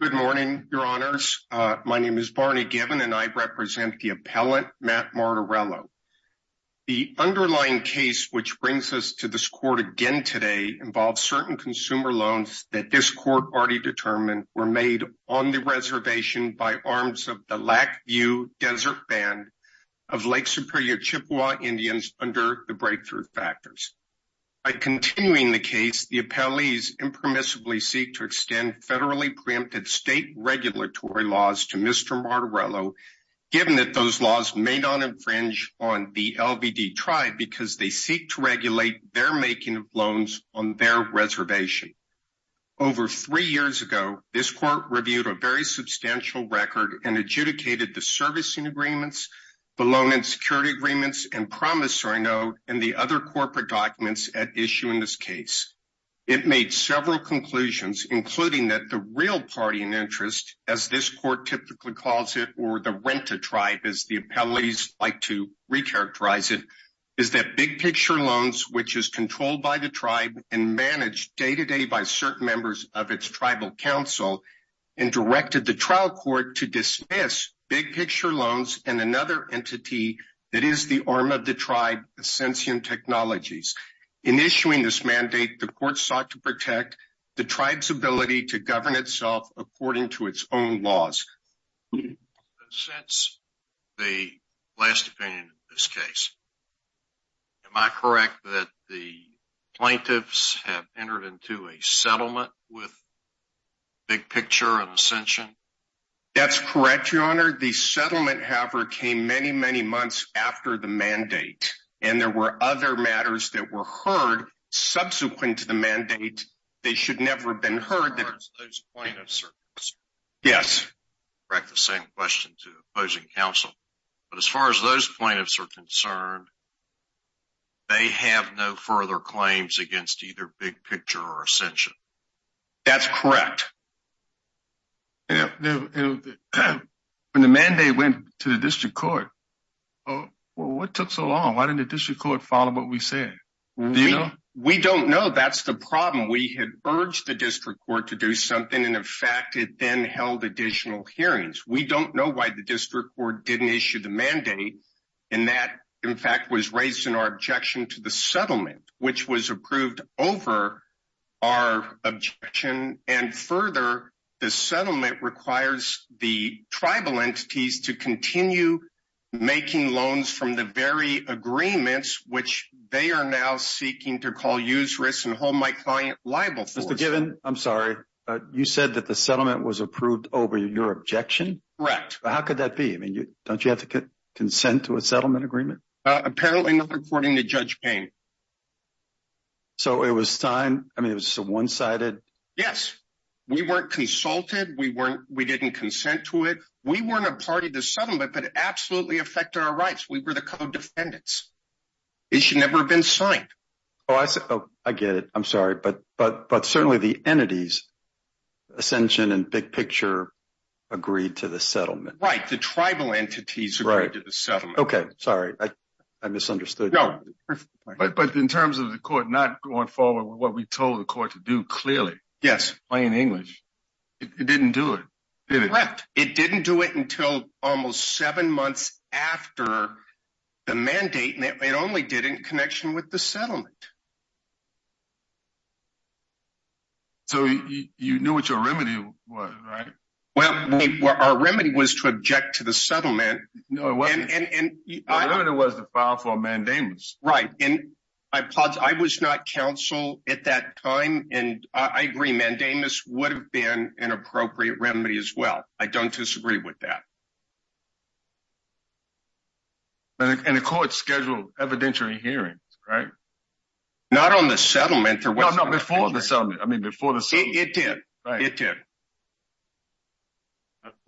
Good morning, your honors. My name is Barney Gibbon, and I represent the appellant Matt Martorello. The underlying case which brings us to this court again today involves certain consumer loans that this court already determined were made on the reservation by arms of the Lac View Desert Band of Lake Superior Chippewa Indians under the Breakthrough Factors. By continuing the case, the appellees impermissibly seek to extend federally preempted state regulatory laws to Mr. Martorello, given that those laws may not infringe on the LVD tribe because they seek to regulate their making of loans on their reservation. Over three years ago, this court reviewed a very substantial record and adjudicated the servicing agreements, the loan and security agreements, and promissory note, and the other corporate documents at issue in this case. It made several conclusions, including that the real party in interest, as this court typically calls it, or the rent-a-tribe, as the appellees like to recharacterize it, is that Big Picture Loans, which is controlled by the tribe and managed day-to-day by certain members of its tribal council, and directed the trial court to dismiss Big Picture Loans and another entity that is the arm of the tribe, Ascension Technologies. In issuing this mandate, the court sought to protect the tribe's ability to govern itself according to its own laws. Since the last opinion in this case, am I correct that the plaintiffs have entered into a settlement with Big Picture and Ascension? That's correct, Your Honor. The settlement, however, came many, many months after the mandate, and there were other matters that were heard subsequent to the mandate that should never have been heard. As far as those plaintiffs are concerned, they have no further claims against either Big Picture or Ascension? That's correct. When the mandate went to the district court, what took so long? Why didn't the district court follow what we said? We don't know. That's the problem. We had urged the district court to do something, and in fact, it then held additional hearings. We don't know why the district court didn't issue the mandate, and that, in fact, was raised in our objection to the settlement, which was approved over our objection. And further, the settlement requires the tribal entities to continue making loans from the very agreements, which they are now seeking to call useless and hold my client liable for. Mr. Given, I'm sorry. You said that the settlement was approved over your objection? Correct. How could that be? Don't you have to consent to a settlement agreement? Apparently not, according to Judge Payne. So it was a one-sided… Yes. We weren't consulted. We didn't consent to it. We weren't a party to the settlement, but it absolutely affected our rights. We were the co-defendants. It should never have been signed. Oh, I get it. I'm sorry. But certainly the entities, Ascension and Big Picture, agreed to the settlement. Right. The tribal entities agreed to the settlement. Okay. Sorry. I misunderstood. No. But in terms of the court not going forward with what we told the court to do, clearly. Yes. Plain English. It didn't do it. Correct. It didn't do it until almost seven months after the mandate, and it only did in connection with the settlement. So you knew what your remedy was, right? Well, our remedy was to object to the settlement. No, it wasn't. Our remedy was to file for mandamus. Right. And I was not counsel at that time, and I agree. Mandamus would have been an appropriate remedy as well. I don't disagree with that. And the court scheduled evidentiary hearings, right? Not on the settlement. No, before the settlement. I mean, before the settlement. It did. It did.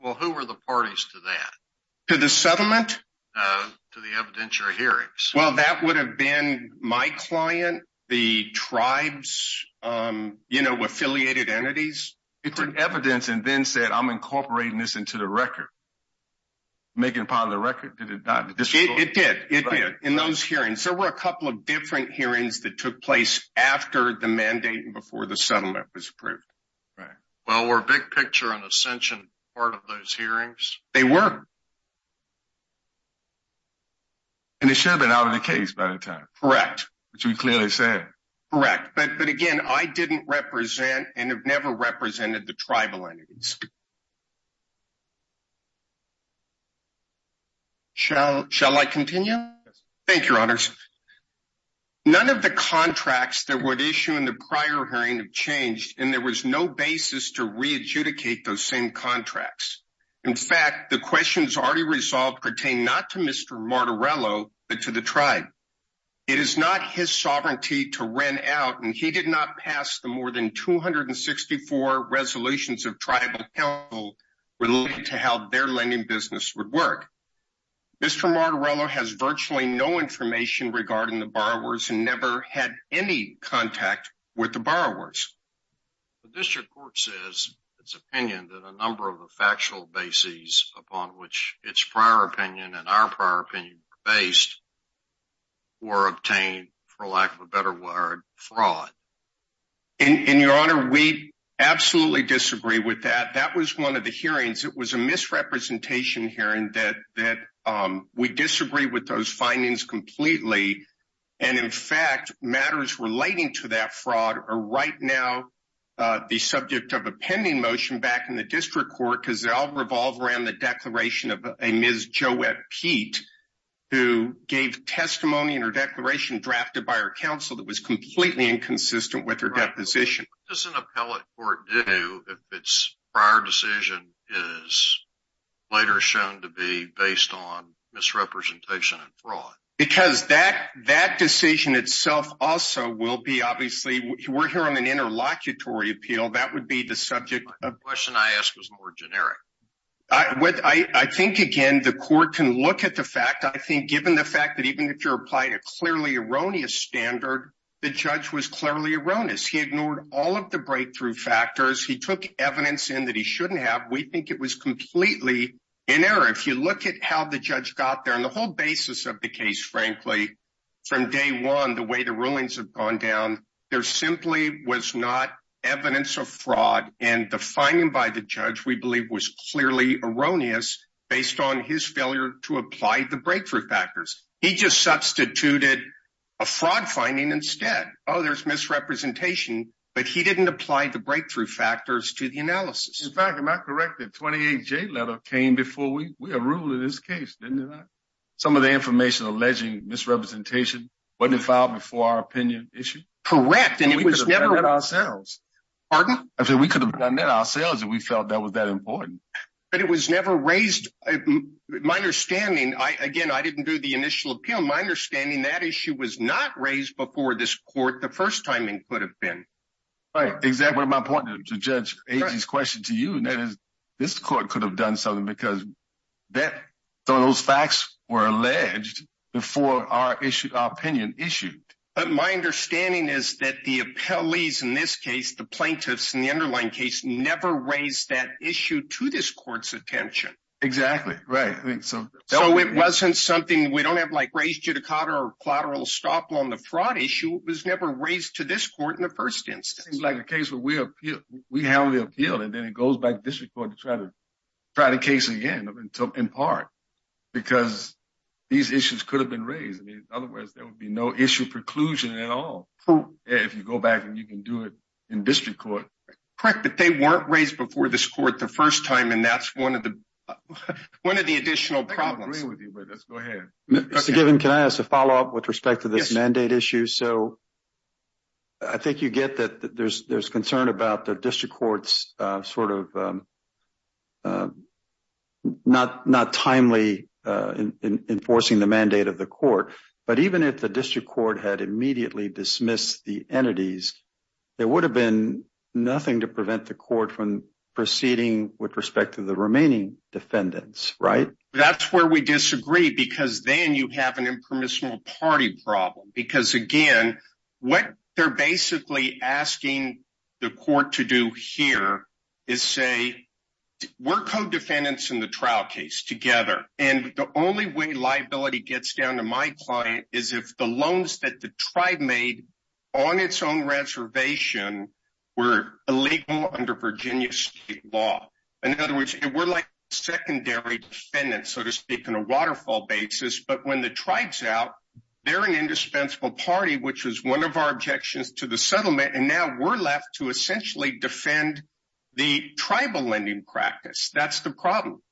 Well, who were the parties to that? To the settlement? To the evidentiary hearings. Well, that would have been my client, the tribes, you know, affiliated entities. It took evidence and then said, I'm incorporating this into the record. Making a part of the record. Did it not? It did. It did. In those hearings. There were a couple of different hearings that took place after the mandate and before the settlement was approved. Right. Well, we're big picture on ascension part of those hearings. They were. And it should have been out of the case by the time. Correct. Which we clearly said. Correct. But again, I didn't represent and have never represented the tribal entities. Thank you, Your Honors. None of the contracts that would issue in the prior hearing have changed, and there was no basis to readjudicate those same contracts. In fact, the questions already resolved pertain not to Mr. Martorello, but to the tribe. It is not his sovereignty to rent out, and he did not pass the more than 264 resolutions of tribal. Related to how their lending business would work. Mr. Martorello has virtually no information regarding the borrowers and never had any contact with the borrowers. The district court says its opinion that a number of the factual bases upon which its prior opinion and our prior opinion based. Or obtained for lack of a better word fraud. And Your Honor, we absolutely disagree with that. That was 1 of the hearings. It was a misrepresentation hearing that that we disagree with those findings completely. And in fact, matters relating to that fraud are right now. The subject of a pending motion back in the district court, because they all revolve around the declaration of a Ms. Who gave testimony in her declaration drafted by her counsel that was completely inconsistent with her deposition. Does an appellate court do if its prior decision is later shown to be based on misrepresentation and fraud? Because that that decision itself also will be. Obviously, we're here on an interlocutory appeal. That would be the subject of question. I asked was more generic. I think, again, the court can look at the fact. I think, given the fact that even if you're applying a clearly erroneous standard, the judge was clearly erroneous. He ignored all of the breakthrough factors. He took evidence in that he shouldn't have. We think it was completely in error. If you look at how the judge got there and the whole basis of the case, frankly, from day 1, the way the rulings have gone down. There simply was not evidence of fraud. And the finding by the judge, we believe, was clearly erroneous based on his failure to apply the breakthrough factors. He just substituted a fraud finding instead. Oh, there's misrepresentation. But he didn't apply the breakthrough factors to the analysis. In fact, I'm not correct. The 28 J letter came before we were ruled in this case. Some of the information alleging misrepresentation wasn't filed before our opinion issue. Correct. And we could have done that ourselves. Pardon? I said we could have done that ourselves if we felt that was that important. But it was never raised. My understanding, again, I didn't do the initial appeal. My understanding, that issue was not raised before this court. The first timing could have been. Right. Exactly. What am I pointing to? To judge AZ's question to you, and that is this court could have done something because some of those facts were alleged before our opinion issued. But my understanding is that the appellees in this case, the plaintiffs in the underlying case, never raised that issue to this court's attention. Exactly. Right. So it wasn't something we don't have like raised judicata or collateral stop on the fraud issue. It was never raised to this court in the first instance. That seems like a case where we have the appeal, and then it goes back to district court to try to case again, in part, because these issues could have been raised. In other words, there would be no issue preclusion at all if you go back and you can do it in district court. Correct, but they weren't raised before this court the first time, and that's one of the additional problems. I don't agree with you, but let's go ahead. Mr. Given, can I ask a follow-up with respect to this mandate issue? So I think you get that there's concern about the district court's sort of not timely enforcing the mandate of the court. But even if the district court had immediately dismissed the entities, there would have been nothing to prevent the court from proceeding with respect to the remaining defendants, right? That's where we disagree, because then you have an impermissible party problem. Because, again, what they're basically asking the court to do here is say, we're co-defendants in the trial case together. And the only way liability gets down to my client is if the loans that the tribe made on its own reservation were illegal under Virginia state law. In other words, we're like secondary defendants, so to speak, on a waterfall basis. But when the tribe's out, they're an indispensable party, which is one of our objections to the settlement. And now we're left to essentially defend the tribal lending practice. That's the problem.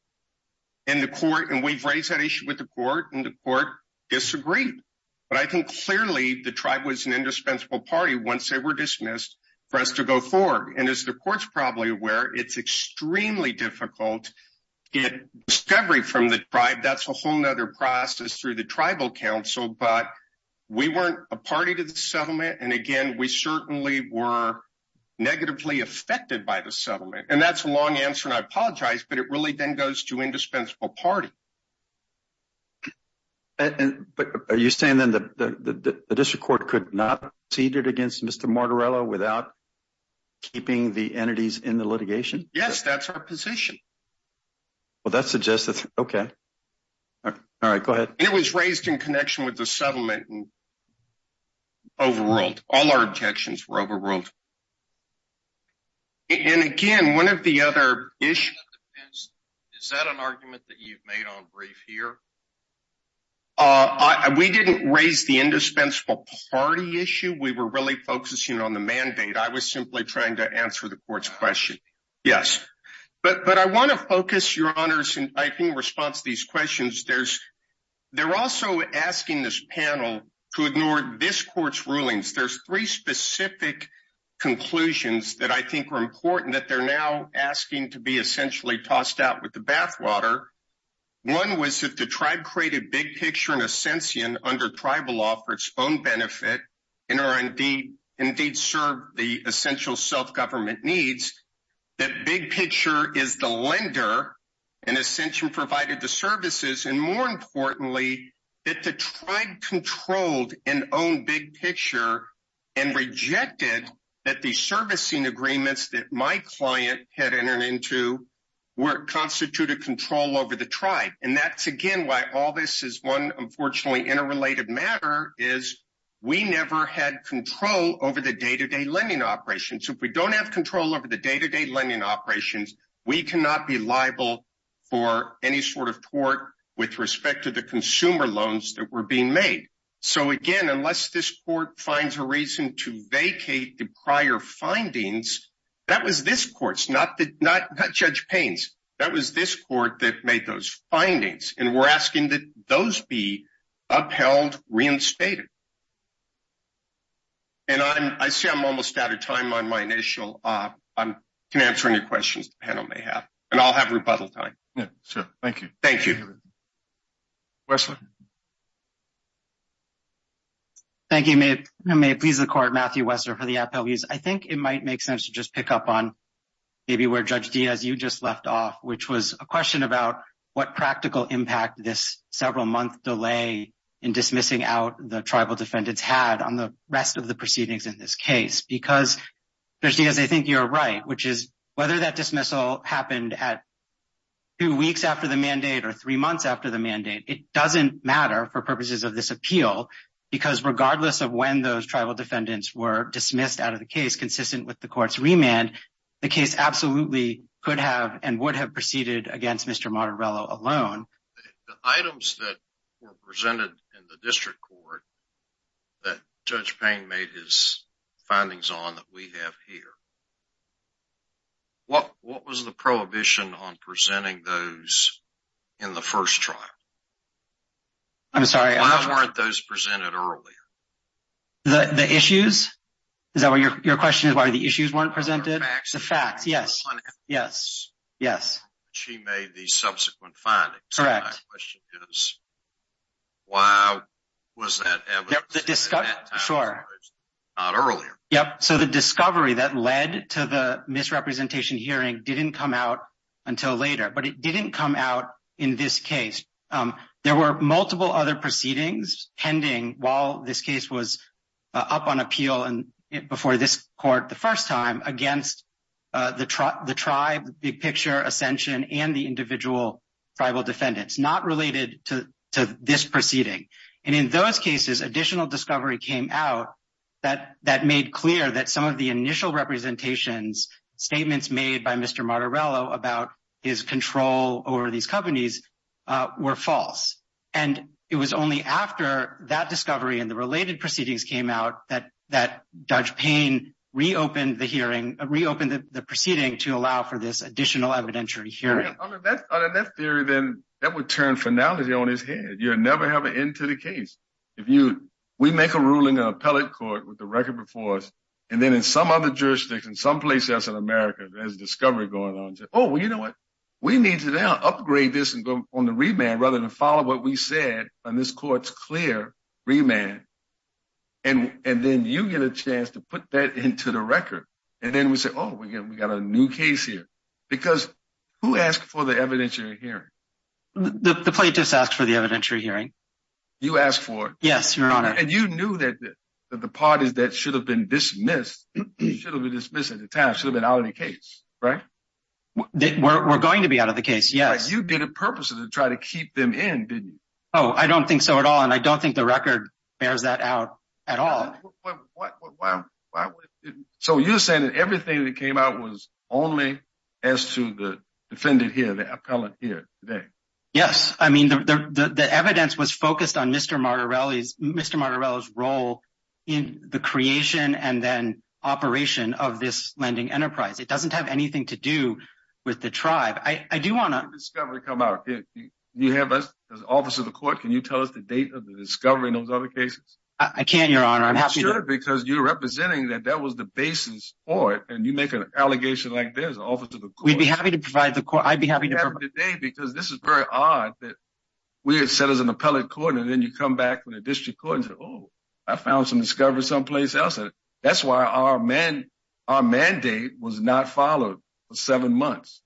And we've raised that issue with the court, and the court disagreed. But I think clearly the tribe was an indispensable party once they were dismissed for us to go forward. And as the court's probably aware, it's extremely difficult to get discovery from the tribe. That's a whole other process through the tribal council. But we weren't a party to the settlement. And, again, we certainly were negatively affected by the settlement. And that's a long answer, and I apologize, but it really then goes to indispensable party. But are you saying, then, that the district court could not have proceeded against Mr. Martorello without keeping the entities in the litigation? Yes, that's our position. Well, that suggests that's okay. All right, go ahead. It was raised in connection with the settlement and overruled. All our objections were overruled. And, again, one of the other issues is that an argument that you've made on brief here? We didn't raise the indispensable party issue. We were really focusing on the mandate. I was simply trying to answer the court's question. Yes. But I want to focus, Your Honors, in response to these questions. They're also asking this panel to ignore this court's rulings. There's three specific conclusions that I think are important that they're now asking to be essentially tossed out with the bathwater. One was that the tribe created Big Picture and Ascension under tribal law for its own benefit and indeed served the essential self-government needs. That Big Picture is the lender, and Ascension provided the services. And, more importantly, that the tribe controlled and owned Big Picture and rejected that the servicing agreements that my client had entered into constituted control over the tribe. And that's, again, why all this is one, unfortunately, interrelated matter is we never had control over the day-to-day lending operations. If we don't have control over the day-to-day lending operations, we cannot be liable for any sort of tort with respect to the consumer loans that were being made. So, again, unless this court finds a reason to vacate the prior findings, that was this court's, not Judge Payne's. That was this court that made those findings, and we're asking that those be upheld, reinstated. And I see I'm almost out of time on my initial. I can answer any questions the panel may have, and I'll have rebuttal time. Yeah, sure. Thank you. Thank you. Wessler. Thank you. May it please the Court, Matthew Wessler for the Appleviews. I think it might make sense to just pick up on maybe where Judge Diaz, you just left off, which was a question about what practical impact this several-month delay in dismissing out the tribal defendants had on the rest of the proceedings in this case. Because, Judge Diaz, I think you're right, which is whether that dismissal happened at two weeks after the mandate or three months after the mandate, it doesn't matter for purposes of this appeal. Because regardless of when those tribal defendants were dismissed out of the case consistent with the court's remand, the case absolutely could have and would have proceeded against Mr. Martorello alone. The items that were presented in the district court that Judge Payne made his findings on that we have here, what was the prohibition on presenting those in the first trial? I'm sorry. Why weren't those presented earlier? The issues? Is that what your question is? Why the issues weren't presented? The facts. The facts, yes. Yes. Yes. She made the subsequent findings. Correct. My question is, why was that evidence presented at that time and not earlier? Sure. Yep. So the discovery that led to the misrepresentation hearing didn't come out until later, but it didn't come out in this case. There were multiple other proceedings pending while this case was up on appeal before this court the first time against the tribe, the big picture, Ascension, and the individual tribal defendants, not related to this proceeding. And in those cases, additional discovery came out that made clear that some of the initial representations, statements made by Mr. Martorello about his control over these companies were false. And it was only after that discovery and the related proceedings came out that Judge Payne reopened the hearing, reopened the proceeding to allow for this additional evidentiary hearing. Under that theory, then, that would turn finality on its head. You'll never have an end to the case. If you—we make a ruling in an appellate court with the record before us, and then in some other jurisdiction, someplace else in America, there's a discovery going on. Oh, well, you know what? We need to now upgrade this and go on the remand rather than follow what we said on this court's clear remand, and then you get a chance to put that into the record. And then we say, oh, we got a new case here. Because who asked for the evidentiary hearing? The plaintiffs asked for the evidentiary hearing. You asked for it? Yes, Your Honor. And you knew that the parties that should have been dismissed should have been dismissed at the time, should have been out of the case, right? We're going to be out of the case, yes. But you did it purposely to try to keep them in, didn't you? Oh, I don't think so at all, and I don't think the record bears that out at all. So you're saying that everything that came out was only as to the defendant here, the appellate here today? Yes, I mean, the evidence was focused on Mr. Martorelli's role in the creation and then operation of this lending enterprise. It doesn't have anything to do with the tribe. I do want to… You have us, as an officer of the court, can you tell us the date of the discovery in those other cases? I can, Your Honor. I'm happy to. You should, because you're representing that that was the basis for it, and you make an allegation like this, an officer of the court. We'd be happy to provide the court. I'd be happy to provide… We'd be happy to provide the date, because this is very odd that we're set as an appellate court, and then you come back to the district court and say, oh, I found some discovery someplace else. That's why our mandate was not followed for seven months.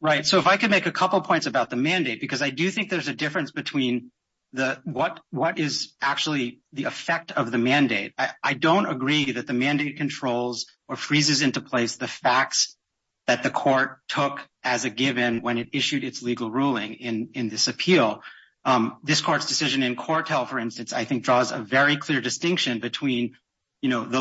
Right, so if I could make a couple points about the mandate, because I do think there's a difference between what is actually the effect of the mandate. I don't agree that the mandate controls or freezes into place the facts that the court took as a given when it issued its legal ruling in this appeal. This court's decision in Cortel, for instance, I think draws a very clear distinction between the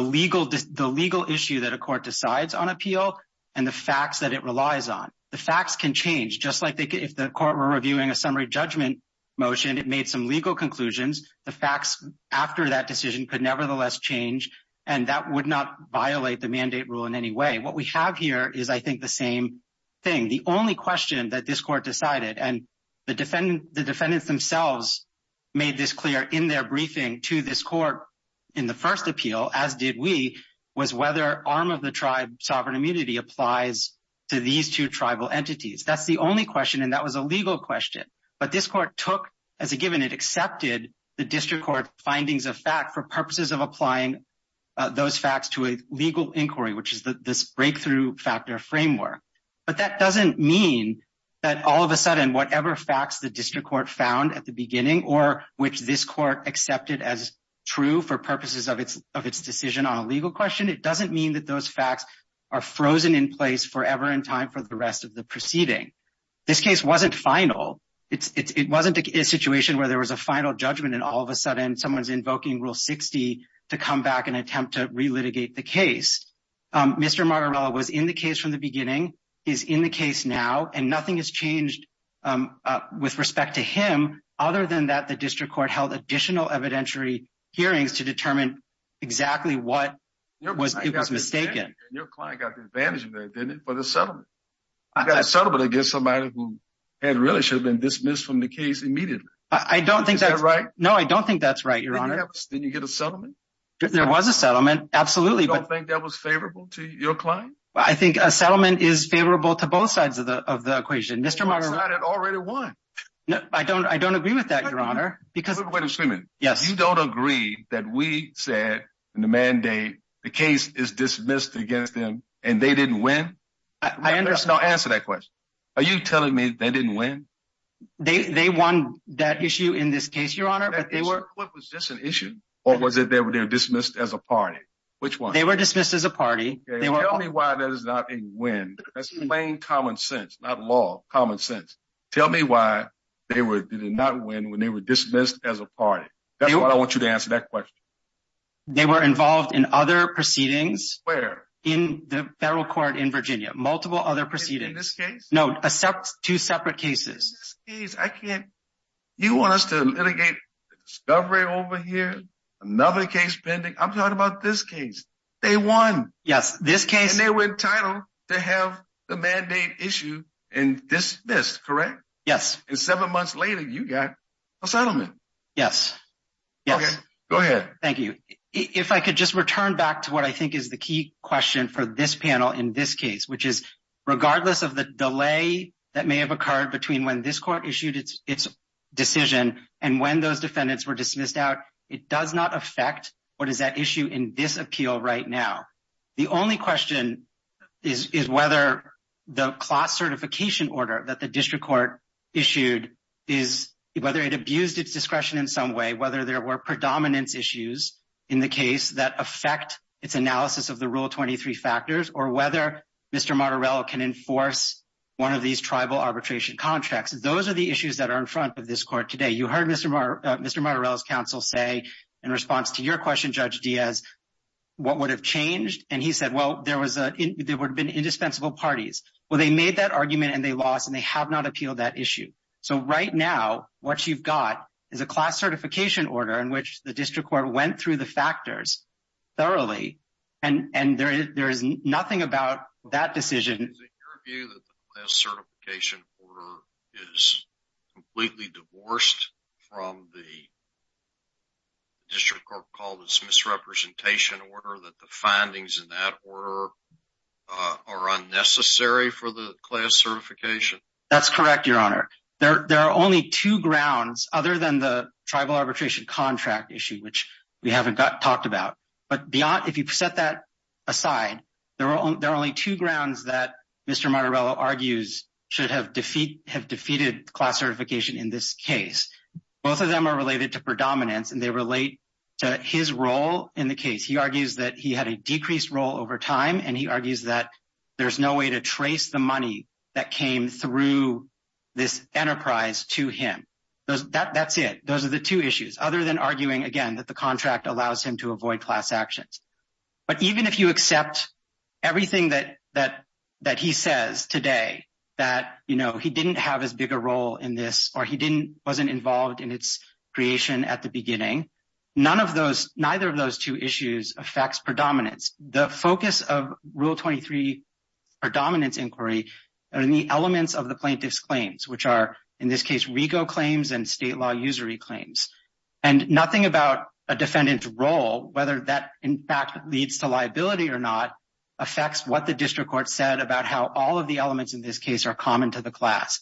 legal issue that a court decides on appeal and the facts that it relies on. The facts can change. Just like if the court were reviewing a summary judgment motion, it made some legal conclusions, the facts after that decision could nevertheless change, and that would not violate the mandate rule in any way. What we have here is, I think, the same thing. The only question that this court decided, and the defendants themselves made this clear in their briefing to this court in the first appeal, as did we, was whether arm-of-the-tribe sovereign immunity applies to these two tribal entities. That's the only question, and that was a legal question. But this court took, as a given, it accepted the district court findings of fact for purposes of applying those facts to a legal inquiry, which is this breakthrough factor framework. But that doesn't mean that all of a sudden, whatever facts the district court found at the beginning, or which this court accepted as true for purposes of its decision on a legal question, it doesn't mean that those facts are frozen in place forever in time for the rest of the proceeding. This case wasn't final. It wasn't a situation where there was a final judgment and all of a sudden, someone's invoking Rule 60 to come back and attempt to re-litigate the case. Mr. Margarello was in the case from the beginning. He's in the case now, and nothing has changed with respect to him, other than that the district court held additional evidentiary hearings to determine exactly what was mistaken. Your client got the advantage of that, didn't it, for the settlement? I got a settlement against somebody who really should have been dismissed from the case immediately. Is that right? No, I don't think that's right, Your Honor. Didn't you get a settlement? There was a settlement, absolutely. You don't think that was favorable to your client? I think a settlement is favorable to both sides of the equation. Both sides had already won. I don't agree with that, Your Honor. Mr. Freeman, you don't agree that we said in the mandate the case is dismissed against them and they didn't win? I understand. Answer that question. Are you telling me they didn't win? They won that issue in this case, Your Honor. That issue? What was this an issue, or was it they were dismissed as a party? Which one? They were dismissed as a party. Tell me why that is not a win. That's plain common sense, not law, common sense. Tell me why they did not win when they were dismissed as a party. That's what I want you to answer that question. They were involved in other proceedings. Where? In the federal court in Virginia, multiple other proceedings. In this case? No, two separate cases. You want us to litigate discovery over here, another case pending? I'm talking about this case. They won. Yes, this case. And they were entitled to have the mandate issue and dismissed, correct? Yes. And seven months later, you got a settlement. Yes. Go ahead. Thank you. If I could just return back to what I think is the key question for this panel in this case, which is regardless of the delay that may have occurred between when this court issued its decision and when those defendants were dismissed out, it does not affect what is at issue in this appeal right now. The only question is whether the class certification order that the district court issued is whether it abused its discretion in some way, whether there were predominance issues in the case that affect its analysis of the Rule 23 factors, or whether Mr. Martorell can enforce one of these tribal arbitration contracts. Those are the issues that are in front of this court today. You heard Mr. Martorell's counsel say in response to your question, Judge Diaz, what would have changed? And he said, well, there would have been indispensable parties. Well, they made that argument and they lost, and they have not appealed that issue. So right now, what you've got is a class certification order in which the district court went through the factors thoroughly, and there is nothing about that decision. Is it your view that the class certification order is completely divorced from the district court called its misrepresentation order, that the findings in that order are unnecessary for the class certification? That's correct, Your Honor. There are only two grounds other than the tribal arbitration contract issue, which we haven't talked about. But if you set that aside, there are only two grounds that Mr. Martorell argues should have defeated class certification in this case. Both of them are related to predominance, and they relate to his role in the case. He argues that he had a decreased role over time, and he argues that there's no way to trace the money that came through this enterprise to him. That's it. Those are the two issues, other than arguing, again, that the contract allows him to avoid class actions. But even if you accept everything that he says today, that he didn't have as big a role in this or he wasn't involved in its creation at the beginning, neither of those two issues affects predominance. The focus of Rule 23 predominance inquiry are in the elements of the plaintiff's claims, which are, in this case, RICO claims and state law usury claims. And nothing about a defendant's role, whether that in fact leads to liability or not, affects what the district court said about how all of the elements in this case are common to the class.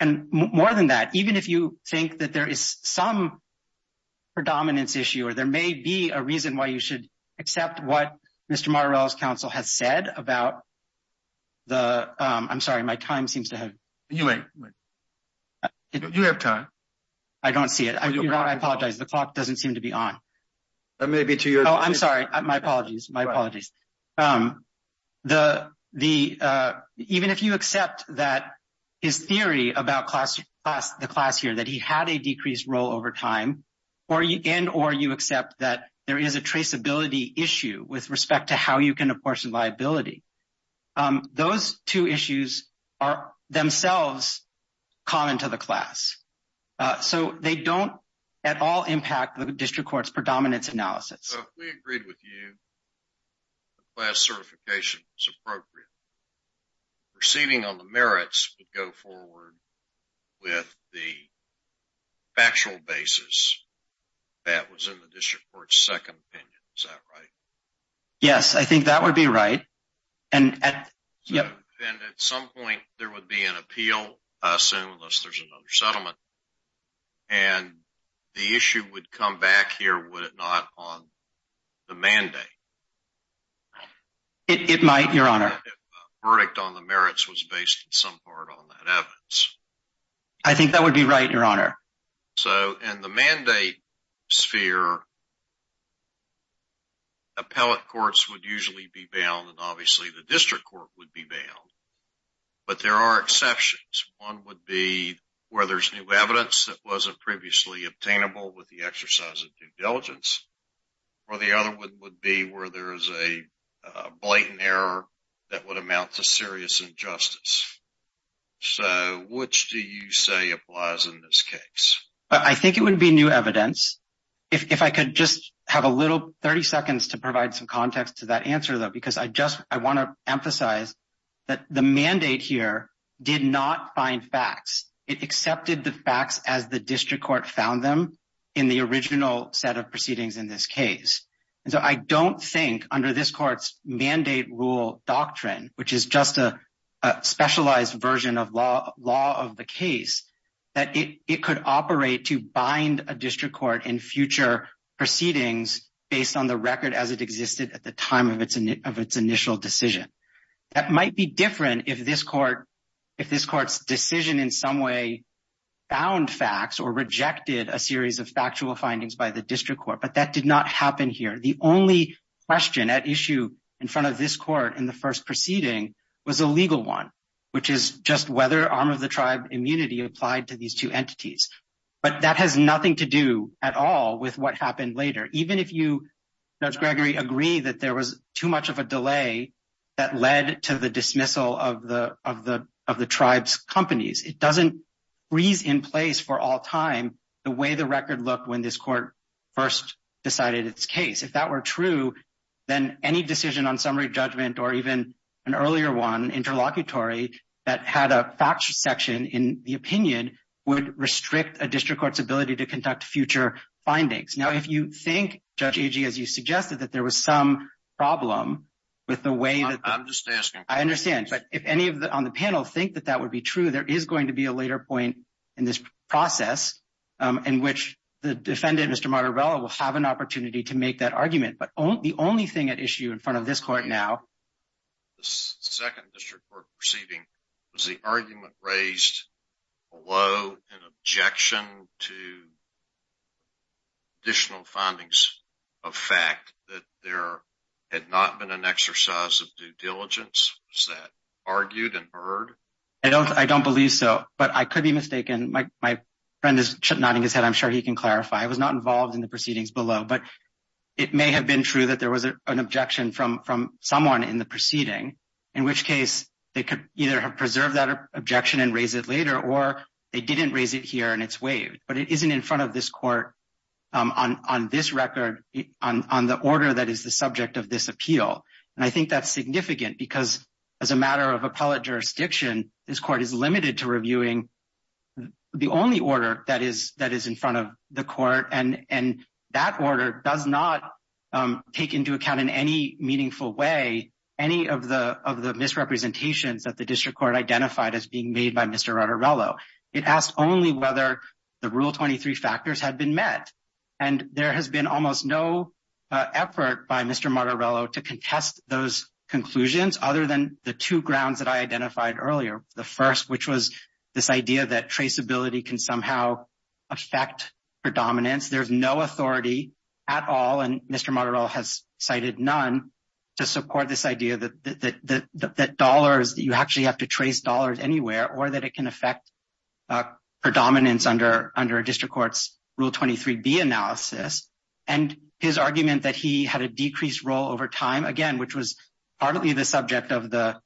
And more than that, even if you think that there is some predominance issue or there may be a reason why you should accept what Mr. Martorell's counsel has said about the—I'm sorry, my time seems to have— You wait. You have time. I don't see it. I apologize. The clock doesn't seem to be on. It may be to your— Oh, I'm sorry. My apologies. My apologies. Even if you accept that his theory about the class here, that he had a decreased role over time, and or you accept that there is a traceability issue with respect to how you can apportion liability, those two issues are themselves common to the class. So they don't at all impact the district court's predominance analysis. So if we agreed with you that class certification was appropriate, proceeding on the merits would go forward with the factual basis that was in the district court's second opinion. Is that right? Yes, I think that would be right. And at some point there would be an appeal, I assume, unless there's another settlement, and the issue would come back here, would it not, on the mandate? It might, Your Honor. If a verdict on the merits was based in some part on that evidence. I think that would be right, Your Honor. So in the mandate sphere, appellate courts would usually be bound, and obviously the district court would be bound. But there are exceptions. One would be where there's new evidence that wasn't previously obtainable with the exercise of due diligence. Or the other would be where there is a blatant error that would amount to serious injustice. So which do you say applies in this case? I think it would be new evidence. If I could just have a little 30 seconds to provide some context to that answer, though, because I just I want to emphasize that the mandate here did not find facts. It accepted the facts as the district court found them in the original set of proceedings in this case. And so I don't think under this court's mandate rule doctrine, which is just a specialized version of law of the case, that it could operate to bind a district court in future proceedings based on the record as it existed at the time of its initial decision. That might be different if this court's decision in some way found facts or rejected a series of factual findings by the district court. But that did not happen here. The only question at issue in front of this court in the first proceeding was a legal one, which is just whether arm of the tribe immunity applied to these two entities. But that has nothing to do at all with what happened later. Even if you, Judge Gregory, agree that there was too much of a delay that led to the dismissal of the tribe's companies, it doesn't freeze in place for all time the way the record looked when this court first decided its case. If that were true, then any decision on summary judgment or even an earlier one, interlocutory that had a factual section in the opinion would restrict a district court's ability to conduct future findings. Now, if you think, Judge Agee, as you suggested, that there was some problem with the way that I understand. But if any of the on the panel think that that would be true, there is going to be a later point in this process in which the defendant, Mr. Motorola, will have an opportunity to make that argument. But the only thing at issue in front of this court now. The second district court proceeding, was the argument raised below an objection to additional findings of fact that there had not been an exercise of due diligence? Was that argued and heard? I don't believe so. But I could be mistaken. My friend is nodding his head. I'm sure he can clarify. I was not involved in the proceedings below. But it may have been true that there was an objection from someone in the proceeding, in which case they could either have preserved that objection and raise it later or they didn't raise it here and it's waived. But it isn't in front of this court on this record, on the order that is the subject of this appeal. And I think that's significant because as a matter of appellate jurisdiction, this court is limited to reviewing the only order that is in front of the court. And that order does not take into account in any meaningful way, any of the misrepresentations that the district court identified as being made by Mr. Martorello. It asked only whether the Rule 23 factors had been met. And there has been almost no effort by Mr. Martorello to contest those conclusions, other than the two grounds that I identified earlier. The first, which was this idea that traceability can somehow affect predominance. There's no authority at all, and Mr. Martorello has cited none, to support this idea that you actually have to trace dollars anywhere or that it can affect predominance under a district court's Rule 23B analysis. And his argument that he had a decreased role over time, again, which was partly the subject of the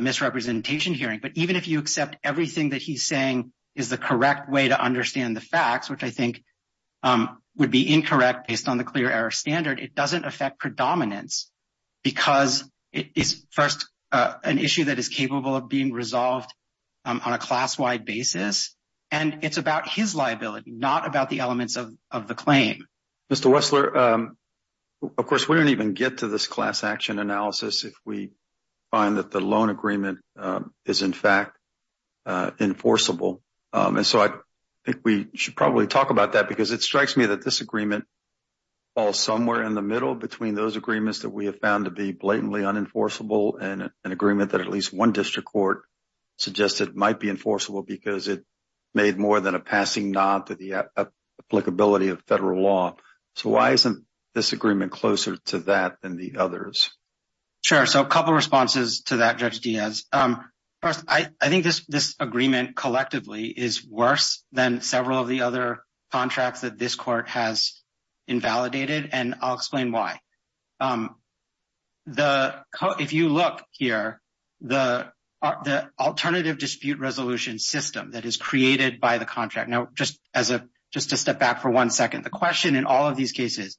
misrepresentation hearing. But even if you accept everything that he's saying is the correct way to understand the facts, which I think would be incorrect based on the clear error standard, it doesn't affect predominance because it's first an issue that is capable of being resolved on a class-wide basis. And it's about his liability, not about the elements of the claim. Mr. Wessler, of course, we don't even get to this class action analysis if we find that the loan agreement is, in fact, enforceable. And so I think we should probably talk about that because it strikes me that this agreement falls somewhere in the middle between those agreements that we have found to be blatantly unenforceable and an agreement that at least one district court suggested might be enforceable because it made more than a passing nod to the applicability of federal law. So why isn't this agreement closer to that than the others? Sure. So a couple of responses to that, Judge Diaz. First, I think this agreement collectively is worse than several of the other contracts that this court has invalidated, and I'll explain why. If you look here, the alternative dispute resolution system that is created by the contract. Now, just to step back for one second, the question in all of these cases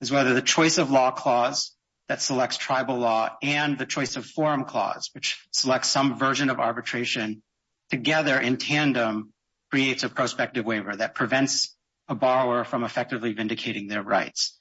is whether the choice of law clause that selects tribal law and the choice of forum clause, which selects some version of arbitration together in tandem, creates a prospective waiver that prevents a borrower from effectively vindicating their rights.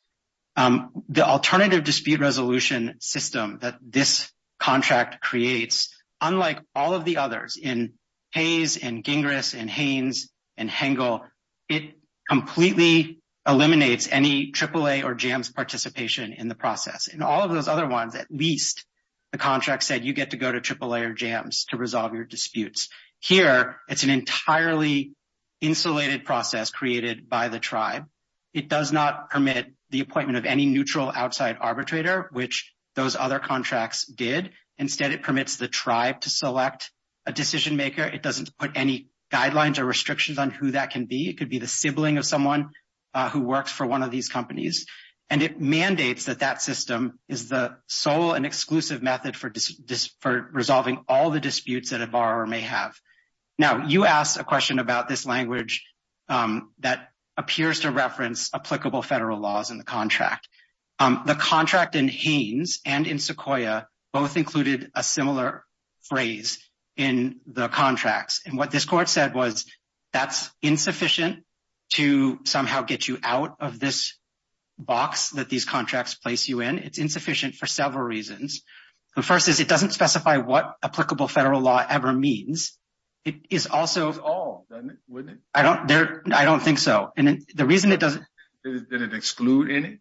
The alternative dispute resolution system that this contract creates, unlike all of the others in Hayes and Gingras and Haines and Hengel, it completely eliminates any AAA or JAMS participation in the process. In all of those other ones, at least the contract said you get to go to AAA or JAMS to resolve your disputes. Here, it's an entirely insulated process created by the tribe. It does not permit the appointment of any neutral outside arbitrator, which those other contracts did. Instead, it permits the tribe to select a decision maker. It doesn't put any guidelines or restrictions on who that can be. It could be the sibling of someone who works for one of these companies. And it mandates that that system is the sole and exclusive method for resolving all the disputes that a borrower may have. Now, you asked a question about this language that appears to reference applicable federal laws in the contract. The contract in Haines and in Sequoia both included a similar phrase in the contracts. And what this court said was that's insufficient to somehow get you out of this box that these contracts place you in. It's insufficient for several reasons. The first is it doesn't specify what applicable federal law ever means. It is also- It's all, isn't it? I don't think so. And the reason it doesn't- Did it exclude any?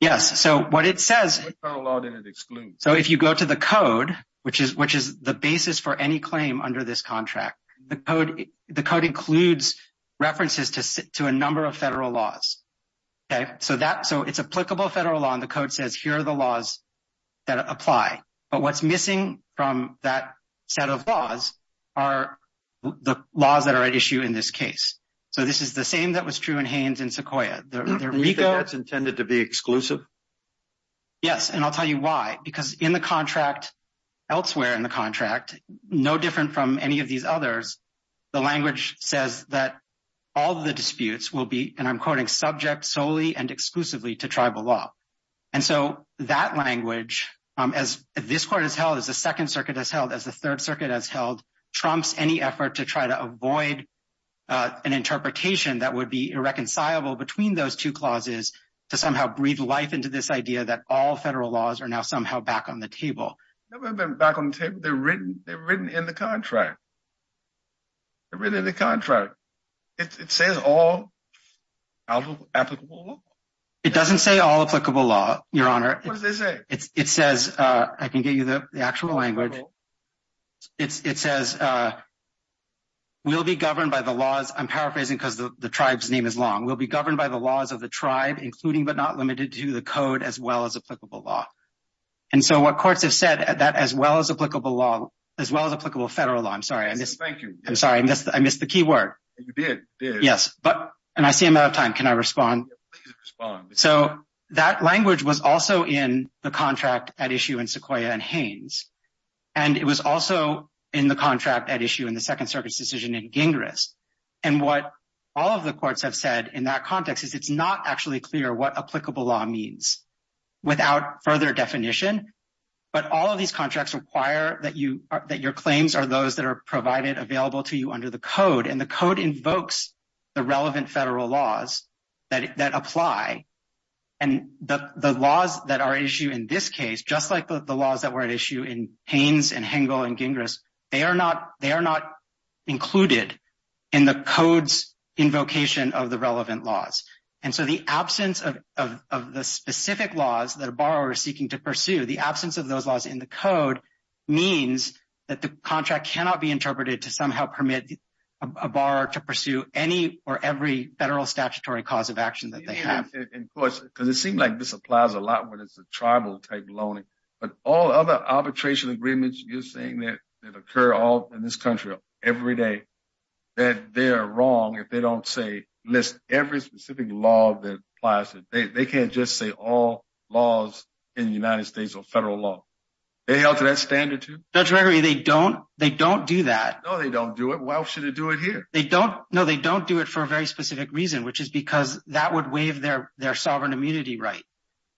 Yes. So what it says- What kind of law did it exclude? So if you go to the code, which is the basis for any claim under this contract, the code includes references to a number of federal laws. So it's applicable federal law, and the code says here are the laws that apply. But what's missing from that set of laws are the laws that are at issue in this case. So this is the same that was true in Haines and Sequoia. Do you think that's intended to be exclusive? Yes, and I'll tell you why. Because in the contract, elsewhere in the contract, no different from any of these others, the language says that all the disputes will be, and I'm quoting, subject solely and exclusively to tribal law. And so that language, as this court has held, as the Second Circuit has held, as the Third Circuit has held, trumps any effort to try to avoid an interpretation that would be irreconcilable between those two clauses to somehow breathe life into this idea that all federal laws are now somehow back on the table. They've never been back on the table. They're written in the contract. They're written in the contract. It says all applicable law. It doesn't say all applicable law, Your Honor. What does it say? It says, I can get you the actual language. It says, we'll be governed by the laws, I'm paraphrasing because the tribe's name is long, we'll be governed by the laws of the tribe, including but not limited to the code as well as applicable law. And so what courts have said, that as well as applicable law, as well as applicable federal law, I'm sorry. Thank you. I'm sorry, I missed the key word. You did, you did. Yes. And I see I'm out of time. Can I respond? Please respond. So that language was also in the contract at issue in Sequoyah and Haines. And it was also in the contract at issue in the Second Circuit's decision in Gingras. And what all of the courts have said in that context is it's not actually clear what applicable law means without further definition. But all of these contracts require that your claims are those that are provided available to you under the code. And the code invokes the relevant federal laws that apply. And the laws that are at issue in this case, just like the laws that were at issue in Haines and Hengel and Gingras, they are not included in the code's invocation of the relevant laws. And so the absence of the specific laws that a borrower is seeking to pursue, the absence of those laws in the code means that the contract cannot be interpreted to somehow permit a borrower to pursue any or every federal statutory cause of action that they have. And of course, because it seems like this applies a lot when it's a tribal type loaning, but all other arbitration agreements you're saying that occur all in this country every day, that they're wrong if they don't list every specific law that applies to it. They can't just say all laws in the United States are federal law. They held to that standard too? Judge Gregory, they don't do that. No, they don't do it. Why should they do it here? No, they don't do it for a very specific reason, which is because that would waive their sovereign immunity right.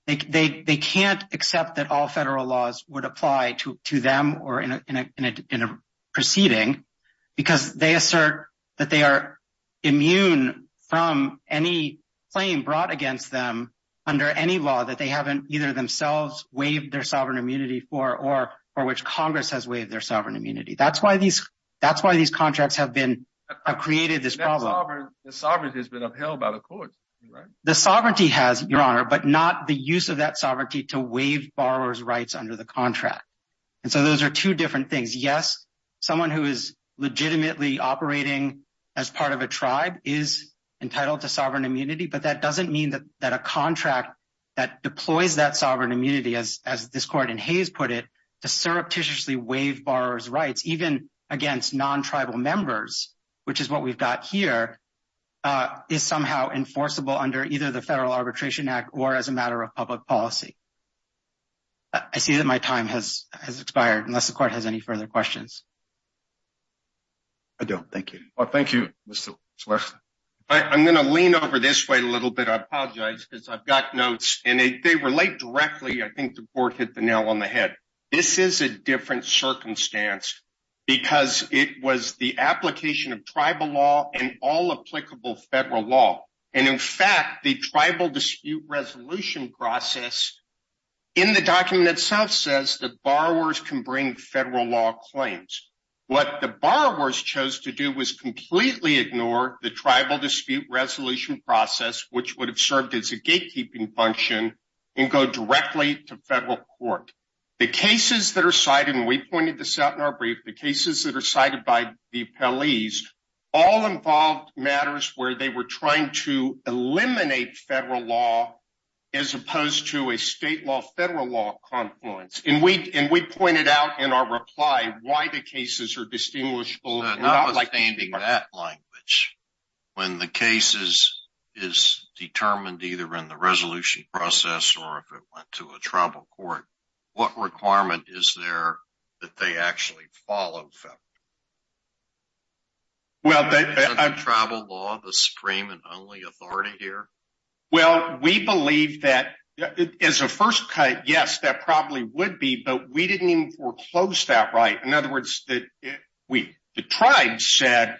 They can't accept that all federal laws would apply to them or in a proceeding because they assert that they are immune from any claim brought against them under any law that they haven't either themselves waived their sovereign immunity for or which Congress has waived their sovereign immunity. That's why these contracts have created this problem. The sovereignty has been upheld by the courts, right? The sovereignty has, Your Honor, but not the use of that sovereignty to waive borrower's rights under the contract. And so those are two different things. Someone who is legitimately operating as part of a tribe is entitled to sovereign immunity, but that doesn't mean that a contract that deploys that sovereign immunity, as this court in Hays put it, to surreptitiously waive borrower's rights, even against non-tribal members, which is what we've got here, is somehow enforceable under either the Federal Arbitration Act or as a matter of public policy. I see that my time has expired unless the court has any further questions. I don't. Thank you. Thank you, Mr. Schlesinger. I'm going to lean over this way a little bit. I apologize because I've got notes and they relate directly. I think the court hit the nail on the head. This is a different circumstance because it was the application of tribal law and all applicable federal law. And in fact, the tribal dispute resolution process in the document itself says that borrowers can bring federal law claims. What the borrowers chose to do was completely ignore the tribal dispute resolution process, which would have served as a gatekeeping function and go directly to federal court. The cases that are cited, and we pointed this out in our brief, the cases that are cited by the appellees, all involved matters where they were trying to eliminate federal law as opposed to a state law, federal law confluence. And we pointed out in our reply why the cases are distinguishable. Notwithstanding that language, when the case is determined either in the resolution process or if it went to a tribal court, what requirement is there that they actually follow federal law? Is it tribal law, the supreme and only authority here? Well, we believe that as a first cut, yes, that probably would be. But we didn't even foreclose that right. In other words, the tribe said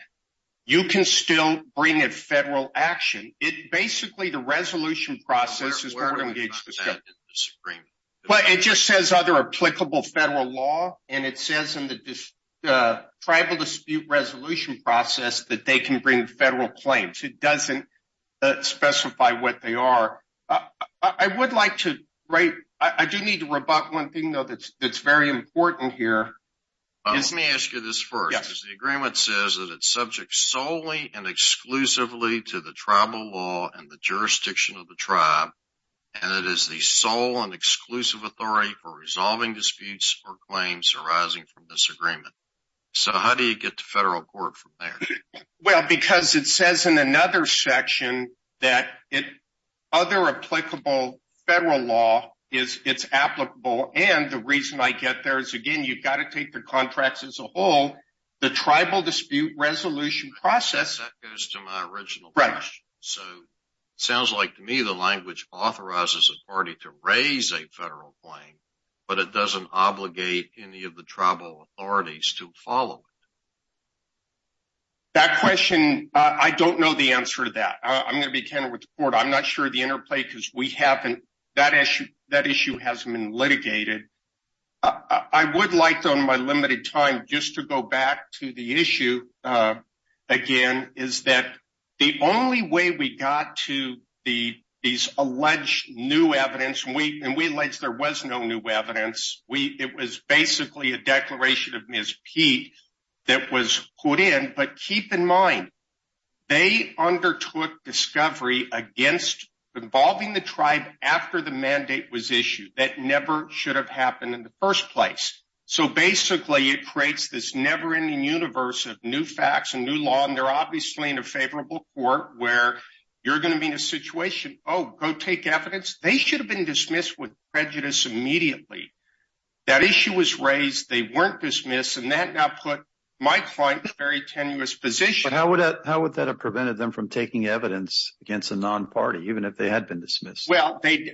you can still bring a federal action. It basically the resolution process is where to engage the Supreme Court. It just says other applicable federal law. And it says in the tribal dispute resolution process that they can bring federal claims. It doesn't specify what they are. I would like to write. I do need to rebut one thing, though, that's very important here. Let me ask you this first. The agreement says that it's subject solely and exclusively to the tribal law and the jurisdiction of the tribe. And it is the sole and exclusive authority for resolving disputes or claims arising from this agreement. So how do you get the federal court from there? Well, because it says in another section that other applicable federal law is it's applicable. And the reason I get there is, again, you've got to take the contracts as a whole. The tribal dispute resolution process. That goes to my original question. Right. So it sounds like to me the language authorizes a party to raise a federal claim. But it doesn't obligate any of the tribal authorities to follow it. That question, I don't know the answer to that. I'm going to be candid with the court. I'm not sure the interplay, because we haven't. That issue hasn't been litigated. I would like, though, in my limited time, just to go back to the issue again, is that the only way we got to these alleged new evidence. And we allege there was no new evidence. We it was basically a declaration of Miss P that was put in. But keep in mind, they undertook discovery against involving the tribe after the mandate was issued. That never should have happened in the first place. So basically, it creates this never ending universe of new facts and new law. And they're obviously in a favorable court where you're going to be in a situation. Oh, go take evidence. They should have been dismissed with prejudice immediately. That issue was raised. They weren't dismissed. And that now put my client in a very tenuous position. But how would that have prevented them from taking evidence against a non-party, even if they had been dismissed? Well, they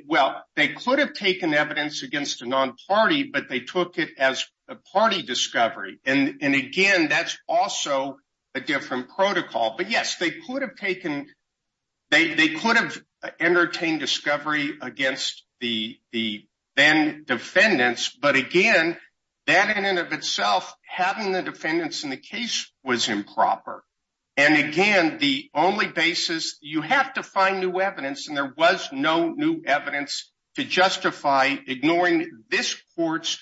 could have taken evidence against a non-party, but they took it as a party discovery. And again, that's also a different protocol. But, yes, they could have taken they could have entertained discovery against the then defendants. But again, that in and of itself, having the defendants in the case was improper. And again, the only basis you have to find new evidence. And there was no new evidence to justify ignoring this court's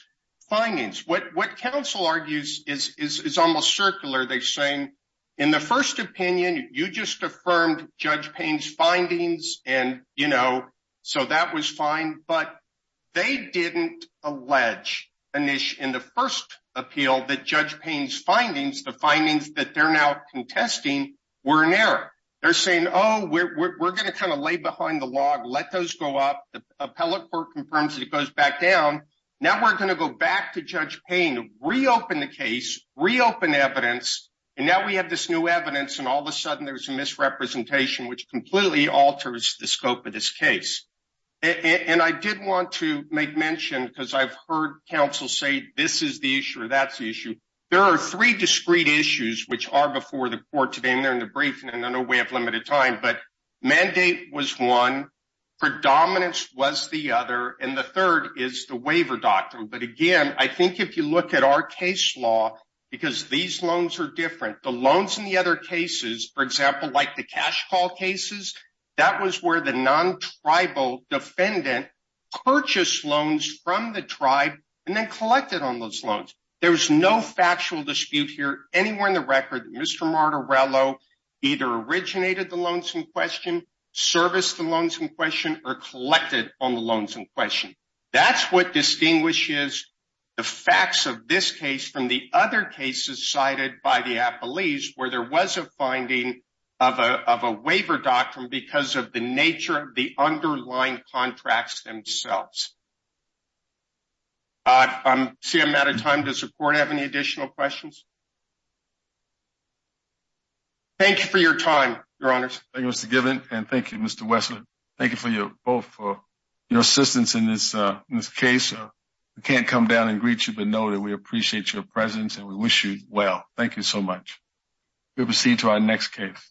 findings. What counsel argues is almost circular. They're saying in the first opinion, you just affirmed Judge Payne's findings. And, you know, so that was fine. But they didn't allege in the first appeal that Judge Payne's findings, the findings that they're now contesting, were in error. They're saying, oh, we're going to kind of lay behind the log, let those go up. The appellate court confirms that it goes back down. Now we're going to go back to Judge Payne, reopen the case, reopen evidence. And now we have this new evidence. And all of a sudden, there's a misrepresentation, which completely alters the scope of this case. And I did want to make mention, because I've heard counsel say this is the issue or that's the issue. There are three discrete issues which are before the court today. And they're in the briefing. And I know we have limited time. But mandate was one. Predominance was the other. And the third is the waiver doctrine. But, again, I think if you look at our case law, because these loans are different, the loans in the other cases, for example, like the cash call cases, that was where the non-tribal defendant purchased loans from the tribe and then collected on those loans. There was no factual dispute here anywhere in the record that Mr. Martorello either originated the loans in question, serviced the loans in question, or collected on the loans in question. That's what distinguishes the facts of this case from the other cases cited by the appellees where there was a finding of a waiver doctrine because of the nature of the underlying contracts themselves. I see I'm out of time. Does the court have any additional questions? Thank you for your time, Your Honors. Thank you, Mr. Gibbons. And thank you, Mr. Wessler. Thank you both for your assistance in this case. We can't come down and greet you, but know that we appreciate your presence and we wish you well. Thank you so much. We'll proceed to our next case.